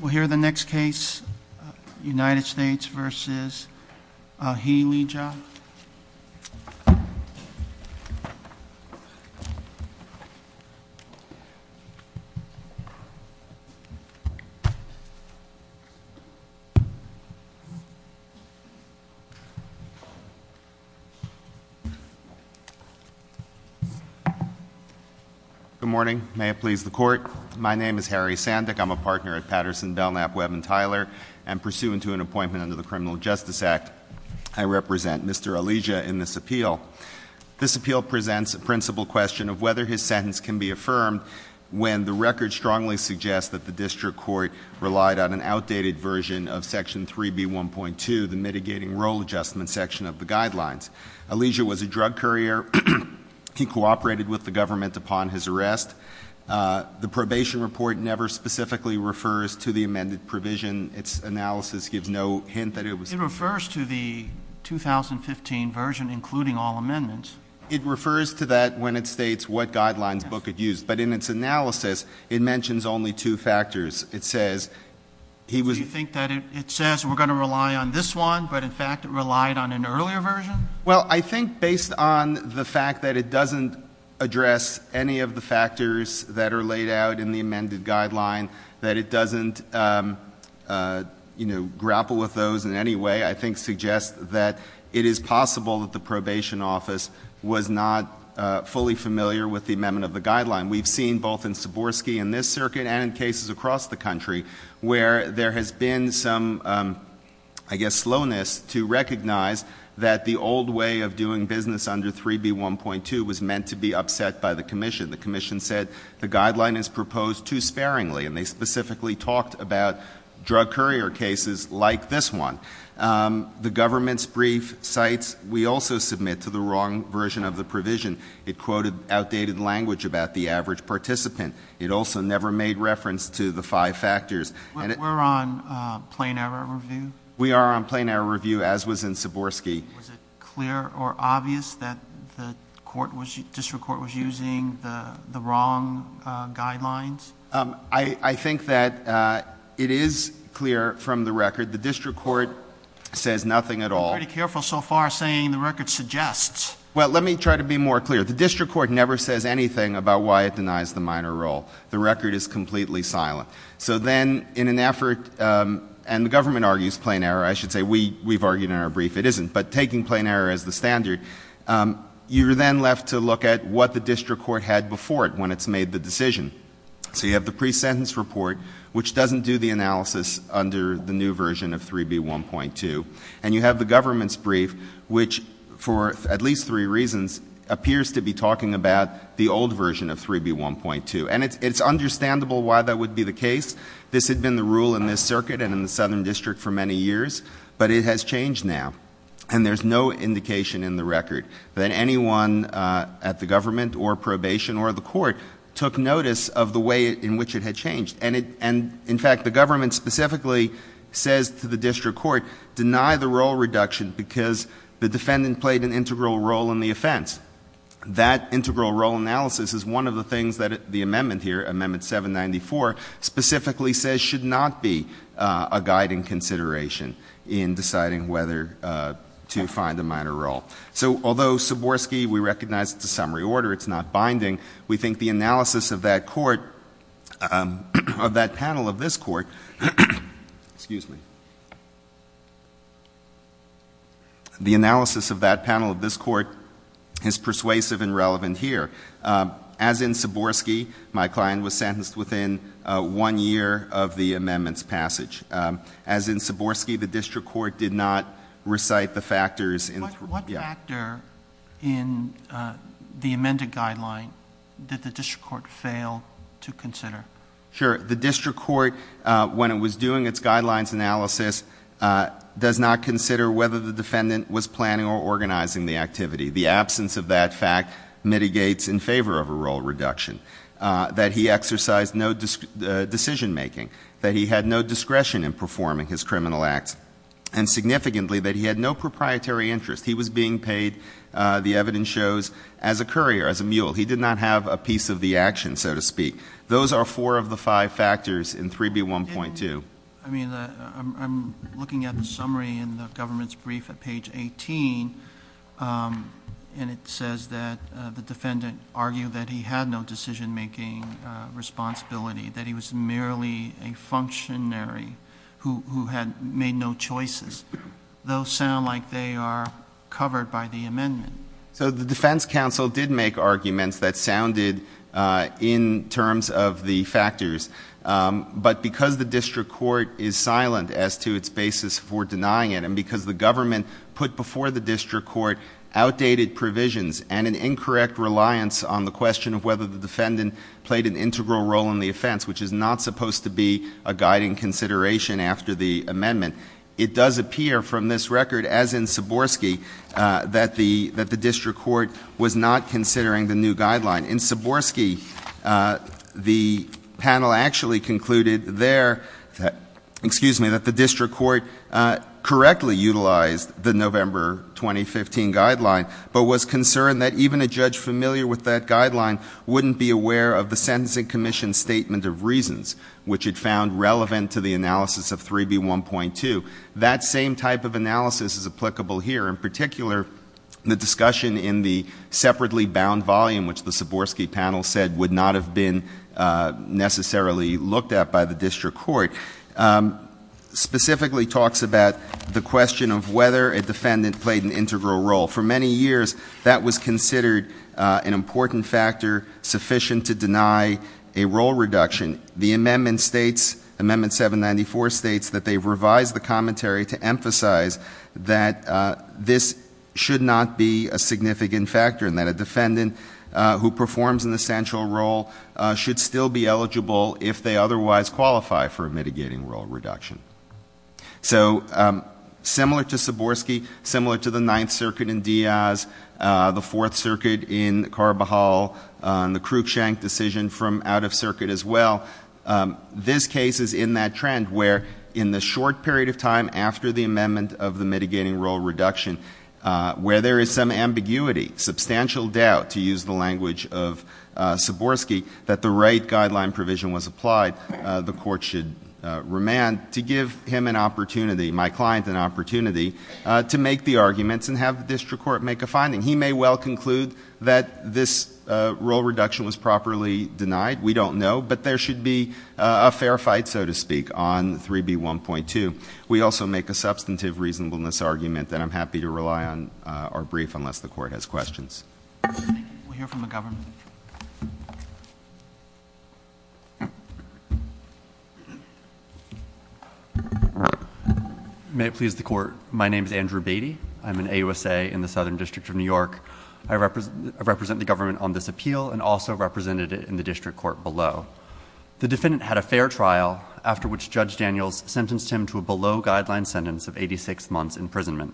We'll hear the next case, United States v. Healy, John. Good morning. May it please the court. My name is Harry Sandick. I'm a partner at Patterson, Belknap, Webb & Tyler. And pursuant to an appointment under the Criminal Justice Act, I represent Mr. Alijia in this appeal. This appeal presents a principal question of whether his sentence can be affirmed when the record strongly suggests that the district court relied on an outdated version of Section 3B1.2, the mitigating role adjustment section of the guidelines. Alijia was a drug courier. He cooperated with the government upon his arrest. The probation report never specifically refers to the amended provision. Its analysis gives no hint that it was. It refers to the 2015 version, including all amendments. It refers to that when it states what guidelines Book had used. But in its analysis, it mentions only two factors. It says he was. Do you think that it says we're going to rely on this one, but in fact it relied on an earlier version? Well, I think based on the fact that it doesn't address any of the factors that are laid out in the amended guideline, that it doesn't, you know, grapple with those in any way, I think suggests that it is possible that the probation office was not fully familiar with the amendment of the guideline. We've seen both in Siborski and this circuit and in cases across the country where there has been some, I guess, slowness to recognize that the old way of doing business under 3B1.2 was meant to be upset by the commission. The commission said the guideline is proposed too sparingly, and they specifically talked about drug courier cases like this one. The government's brief cites we also submit to the wrong version of the provision. It quoted outdated language about the average participant. It also never made reference to the five factors. We're on plain error review? We are on plain error review, as was in Siborski. Was it clear or obvious that the district court was using the wrong guidelines? I think that it is clear from the record. The district court says nothing at all. You're pretty careful so far saying the record suggests. Well, let me try to be more clear. The district court never says anything about why it denies the minor role. The record is completely silent. So then in an effort, and the government argues plain error. I should say we've argued in our brief it isn't. But taking plain error as the standard, you're then left to look at what the district court had before it when it's made the decision. So you have the pre-sentence report, which doesn't do the analysis under the new version of 3B1.2, and you have the government's brief, which for at least three reasons appears to be talking about the old version of 3B1.2. And it's understandable why that would be the case. This had been the rule in this circuit and in the southern district for many years, but it has changed now. And there's no indication in the record that anyone at the government or probation or the court took notice of the way in which it had changed. And in fact, the government specifically says to the district court, deny the role reduction because the defendant played an integral role in the offense. That integral role analysis is one of the things that the amendment here, Amendment 794, specifically says should not be a guiding consideration in deciding whether to find a minor role. So although Siborski, we recognize it's a summary order, it's not binding, we think the analysis of that panel of this court is persuasive and relevant here. As in Siborski, my client was sentenced within one year of the amendment's passage. As in Siborski, the district court did not recite the factors. Yeah. What factor in the amended guideline did the district court fail to consider? Sure. The district court, when it was doing its guidelines analysis, does not consider whether the defendant was planning or organizing the activity. The absence of that fact mitigates in favor of a role reduction. That he exercised no decision making. That he had no discretion in performing his criminal acts. And significantly, that he had no proprietary interest. He was being paid, the evidence shows, as a courier, as a mule. He did not have a piece of the action, so to speak. Those are four of the five factors in 3B1.2. I mean, I'm looking at the summary in the government's brief at page 18. And it says that the defendant argued that he had no decision making responsibility. That he was merely a functionary who had made no choices. Those sound like they are covered by the amendment. So the defense counsel did make arguments that sounded in terms of the factors. But because the district court is silent as to its basis for denying it. And because the government put before the district court outdated provisions. And an incorrect reliance on the question of whether the defendant played an integral role in the offense. Which is not supposed to be a guiding consideration after the amendment. It does appear from this record, as in Suborski, that the district court was not considering the new guideline. In Suborski, the panel actually concluded there that the district court correctly utilized the November 2015 guideline. But was concerned that even a judge familiar with that guideline wouldn't be aware of the sentencing commission's statement of reasons. Which it found relevant to the analysis of 3B1.2. That same type of analysis is applicable here. In particular, the discussion in the separately bound volume, which the Suborski panel said would not have been necessarily looked at by the district court. Specifically talks about the question of whether a defendant played an integral role. For many years, that was considered an important factor sufficient to deny a role reduction. The amendment states, amendment 794 states that they've revised the commentary to emphasize that this should not be a significant factor. And that a defendant who performs an essential role should still be eligible if they otherwise qualify for a mitigating role reduction. So similar to Suborski, similar to the Ninth Circuit in Diaz, the Fourth Circuit in Carbajal, the Cruikshank decision from out of circuit as well. This case is in that trend where in the short period of time after the amendment of the mitigating role reduction, where there is some ambiguity, substantial doubt, to use the language of Suborski, that the right guideline provision was applied, the court should remand to give him an opportunity, my client an opportunity, to make the arguments and have the district court make a finding. He may well conclude that this role reduction was properly denied. We don't know. But there should be a fair fight, so to speak, on 3B1.2. We also make a substantive reasonableness argument that I'm happy to rely on our brief unless the court has questions. We'll hear from the government. May it please the court. My name is Andrew Beatty. I'm an AUSA in the Southern District of New York. I represent the government on this appeal and also represented it in the district court below. The defendant had a fair trial after which Judge Daniels sentenced him to a below guideline sentence of 86 months imprisonment.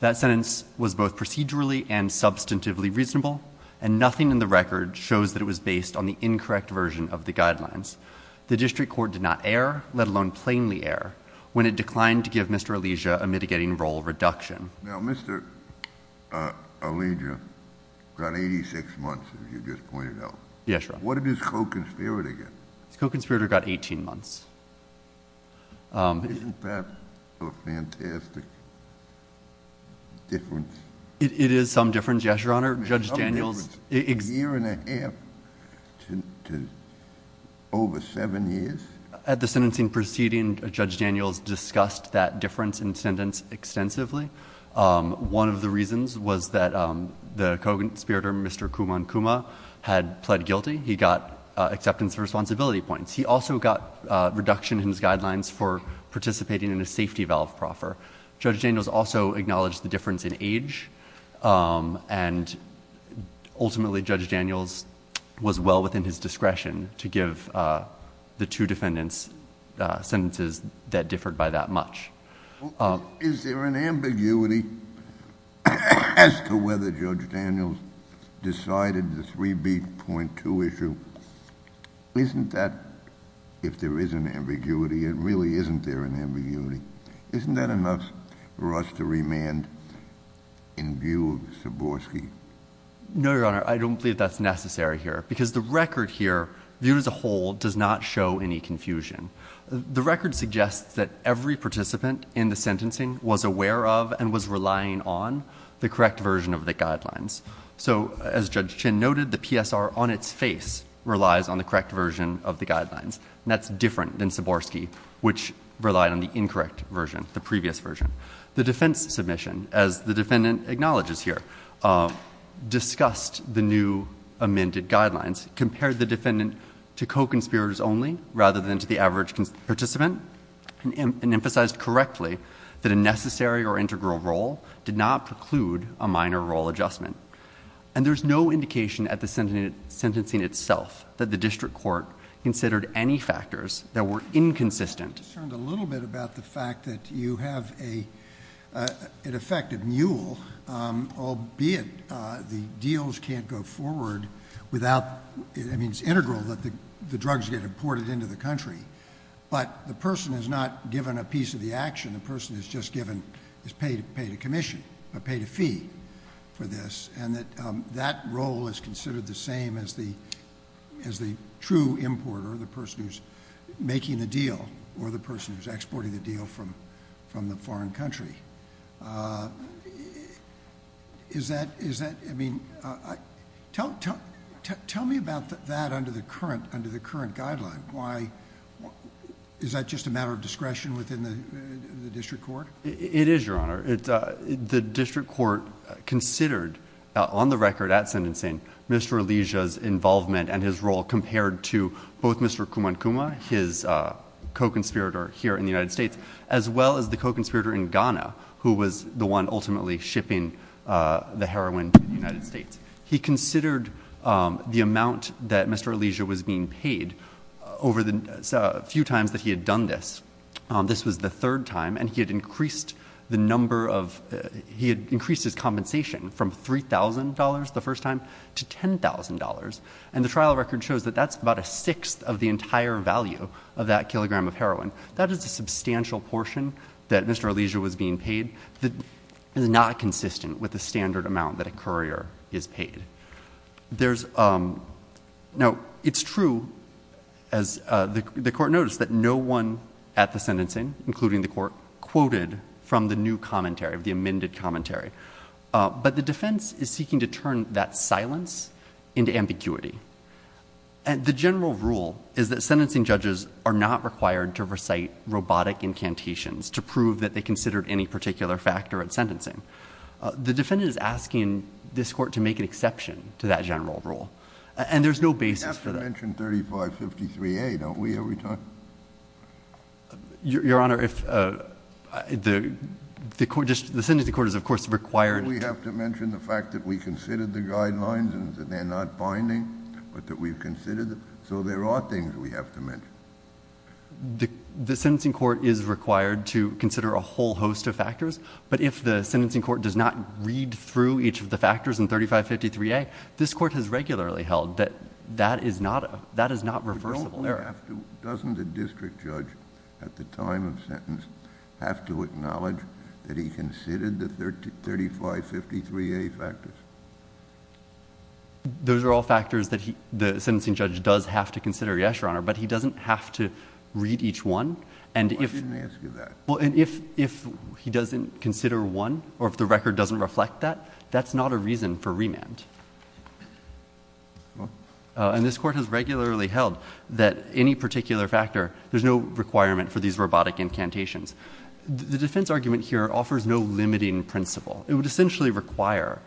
That sentence was both procedurally and substantively reasonable, and nothing in the record shows that it was based on the incorrect version of the guidelines. The district court did not err, let alone plainly err, when it declined to give Mr. Alijia a mitigating role reduction. Now, Mr. Alijia got 86 months, as you just pointed out. Yes, Your Honor. What did his co-conspirator get? His co-conspirator got 18 months. Isn't that a fantastic difference? It is some difference, yes, Your Honor. Judge Daniels — A year and a half to over 7 years? At the sentencing proceeding, Judge Daniels discussed that difference in sentence extensively. One of the reasons was that the co-conspirator, Mr. Kumankuma, had pled guilty. He got acceptance of responsibility points. He also got reduction in his guidelines for participating in a safety valve proffer. Judge Daniels also acknowledged the difference in age, and ultimately Judge Daniels was well within his discretion to give the two defendants sentences that differed by that much. Is there an ambiguity as to whether Judge Daniels decided the 3B.2 issue? Isn't that — if there is an ambiguity, it really isn't there an ambiguity. Isn't that enough for us to remand in view of Siborski? No, Your Honor. I don't believe that's necessary here, because the record here, viewed as a whole, does not show any confusion. The record suggests that every participant in the sentencing was aware of and was relying on the correct version of the guidelines. So, as Judge Chin noted, the PSR on its face relies on the correct version of the guidelines, and that's different than Siborski, which relied on the incorrect version, the previous version. The defense submission, as the defendant acknowledges here, discussed the new amended guidelines, compared the defendant to co-conspirators only rather than to the average participant, and emphasized correctly that a necessary or integral role did not preclude a minor role adjustment. And there's no indication at the sentencing itself that the district court considered any factors that were inconsistent. I'm concerned a little bit about the fact that you have an effective mule, albeit the deals can't go forward without — I mean, it's integral that the drugs get imported into the country, but the person is not given a piece of the action. The person is just given — is paid a commission, or paid a fee for this, and that that role is considered the same as the true importer, the person who's making the deal, or the person who's exporting the deal from the foreign country. Is that — is that — I mean, tell me about that under the current guideline. Why — is that just a matter of discretion within the district court? It is, Your Honor. The district court considered, on the record at sentencing, Mr. Alijia's involvement and his role compared to both Mr. Kumankuma, his co-conspirator here in the United States, as well as the co-conspirator in Ghana, who was the one ultimately shipping the heroin to the United States. He considered the amount that Mr. Alijia was being paid over the few times that he had done this. This was the third time, and he had increased the number of — he had increased his compensation from $3,000 the first time to $10,000. And the trial record shows that that's about a sixth of the entire value of that kilogram of heroin. That is a substantial portion that Mr. Alijia was being paid. It is not consistent with the standard amount that a courier is paid. There's — now, it's true, as the court noticed, that no one at the sentencing, including the court, quoted from the new commentary, the amended commentary. But the defense is seeking to turn that silence into ambiguity. And the general rule is that sentencing judges are not required to recite robotic incantations to prove that they considered any particular factor at sentencing. The defendant is asking this Court to make an exception to that general rule. And there's no basis for that. We have to mention 3553A, don't we, every time? Your Honor, if the court — the sentencing court is, of course, required — Don't we have to mention the fact that we considered the guidelines and that they're not binding, but that we've considered them? So there are things we have to mention. The sentencing court is required to consider a whole host of factors. But if the sentencing court does not read through each of the factors in 3553A, this Court has regularly held that that is not a — that is not reversible error. Doesn't the district judge at the time of sentence have to acknowledge that he considered the 3553A factors? Those are all factors that the sentencing judge does have to consider, yes, Your Honor. But he doesn't have to read each one. I didn't ask you that. And if he doesn't consider one, or if the record doesn't reflect that, that's not a reason for remand. And this Court has regularly held that any particular factor — there's no requirement for these robotic incantations. The defense argument here offers no limiting principle. It would essentially require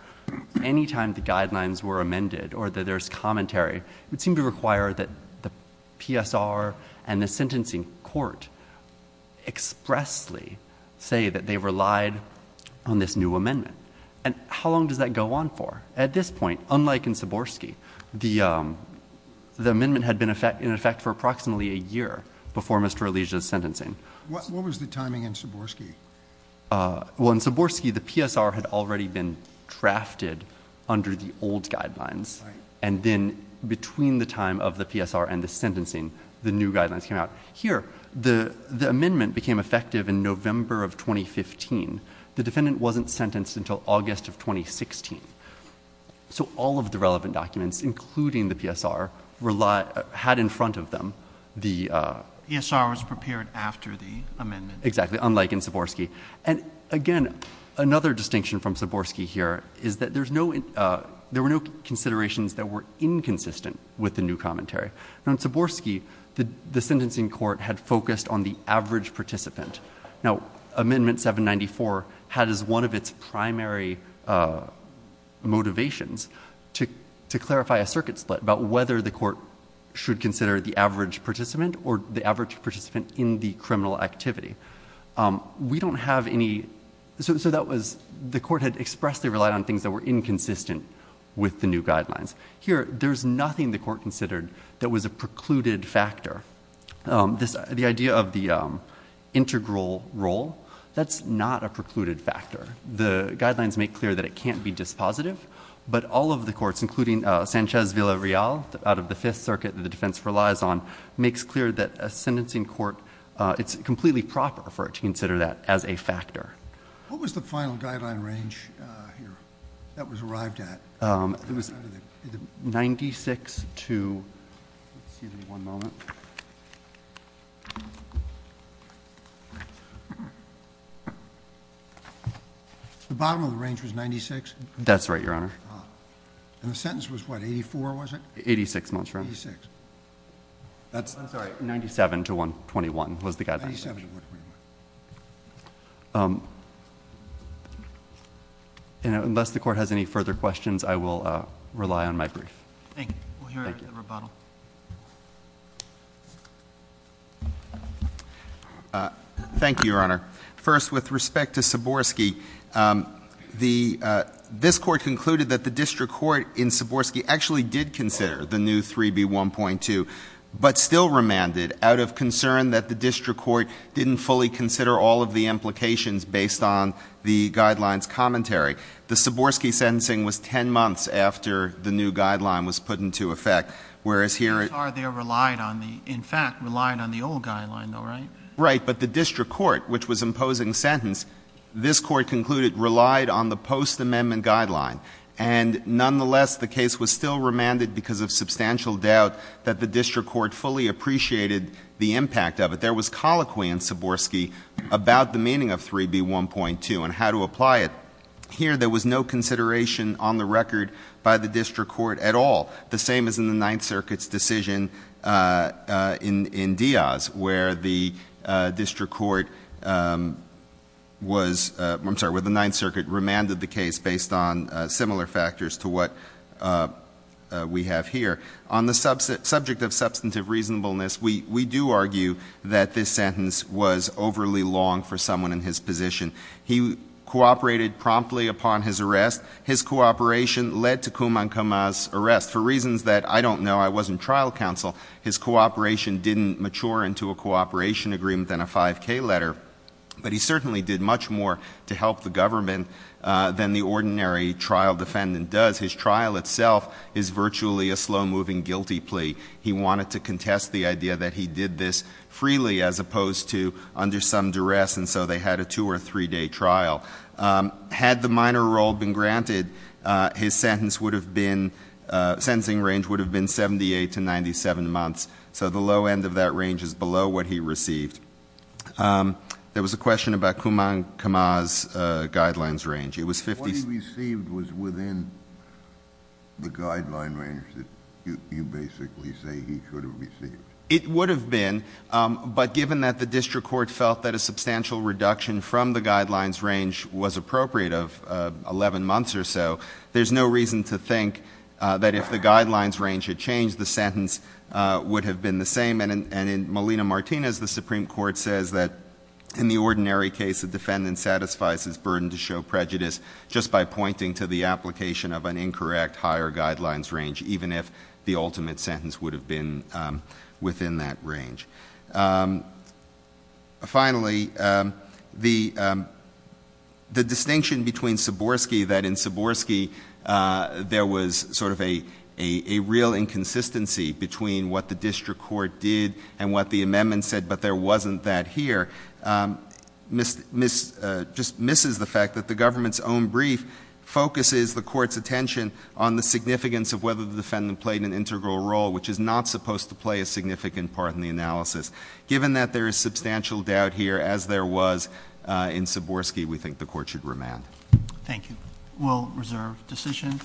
any time the guidelines were amended or that there's commentary, it would seem to require that the PSR and the sentencing court expressly say that they relied on this new amendment. And how long does that go on for? At this point, unlike in Siborski, the amendment had been in effect for approximately a year before Mr. Elijah's sentencing. What was the timing in Siborski? Well, in Siborski, the PSR had already been drafted under the old guidelines. Right. And then between the time of the PSR and the sentencing, the new guidelines came out. Here, the amendment became effective in November of 2015. The defendant wasn't sentenced until August of 2016. So all of the relevant documents, including the PSR, had in front of them the — PSR was prepared after the amendment. Exactly, unlike in Siborski. And, again, another distinction from Siborski here is that there's no — there were no considerations that were inconsistent with the new commentary. Now, in Siborski, the sentencing court had focused on the average participant. Now, Amendment 794 had as one of its primary motivations to clarify a circuit split about whether the court should consider the average participant or the average participant in the criminal activity. We don't have any — so that was — the court had expressly relied on things that were inconsistent with the new guidelines. Here, there's nothing the court considered that was a precluded factor. The idea of the integral role, that's not a precluded factor. The guidelines make clear that it can't be dispositive. But all of the courts, including Sanchez-Villarreal, out of the Fifth Circuit that the defense relies on, makes clear that a sentencing court — it's completely proper for it to consider that as a factor. What was the final guideline range here that was arrived at? It was 96 to — excuse me one moment. The bottom of the range was 96? That's right, Your Honor. And the sentence was what, 84, was it? 86 months, Your Honor. 86. I'm sorry, 97 to 121 was the guideline. 97 to 121. And unless the court has any further questions, I will rely on my brief. Thank you. We'll hear the rebuttal. Thank you. Thank you, Your Honor. First, with respect to Siborski, the — this court concluded that the district court in Siborski actually did consider the new 3B1.2, but still remanded out of concern that the district court didn't fully consider all of the implications based on the guideline's commentary. The Siborski sentencing was 10 months after the new guideline was put into effect, whereas here it — They relied on the — in fact, relied on the old guideline, though, right? Right. But the district court, which was imposing sentence, this court concluded relied on the post-amendment guideline. And nonetheless, the case was still remanded because of substantial doubt that the district court fully appreciated the impact of it. There was colloquy in Siborski about the meaning of 3B1.2 and how to apply it. Here, there was no consideration on the record by the district court at all, the same as in the Ninth Circuit's decision in Diaz, where the district court was — I'm sorry, where the Ninth Circuit remanded the case based on similar factors to what we have here. On the subject of substantive reasonableness, we do argue that this sentence was overly long for someone in his position. He cooperated promptly upon his arrest. His cooperation led to Kumang Kama's arrest. For reasons that I don't know, I wasn't trial counsel, his cooperation didn't mature into a cooperation agreement in a 5K letter. But he certainly did much more to help the government than the ordinary trial defendant does. His trial itself is virtually a slow-moving guilty plea. He wanted to contest the idea that he did this freely as opposed to under some duress, and so they had a two- or three-day trial. Had the minor role been granted, his sentence would have been — sentencing range would have been 78 to 97 months. So the low end of that range is below what he received. There was a question about Kumang Kama's guidelines range. It was 50 — What he received was within the guideline range that you basically say he should have received. It would have been, but given that the district court felt that a substantial reduction from the guidelines range was appropriate of 11 months or so, there's no reason to think that if the guidelines range had changed, the sentence would have been the same. And in Molina-Martinez, the Supreme Court says that in the ordinary case, a defendant satisfies his burden to show prejudice just by pointing to the application of an incorrect higher guidelines range, even if the ultimate sentence would have been within that range. Finally, the distinction between Siborski, that in Siborski, there was sort of a real inconsistency between what the district court did and what the amendment said, but there wasn't that here, just misses the fact that the government's own brief focuses the court's attention on the significance of whether the defendant played an integral role, which is not supposed to play a significant part in the analysis. Given that there is substantial doubt here, as there was in Siborski, we think the court should remand. Thank you. We'll reserve decision.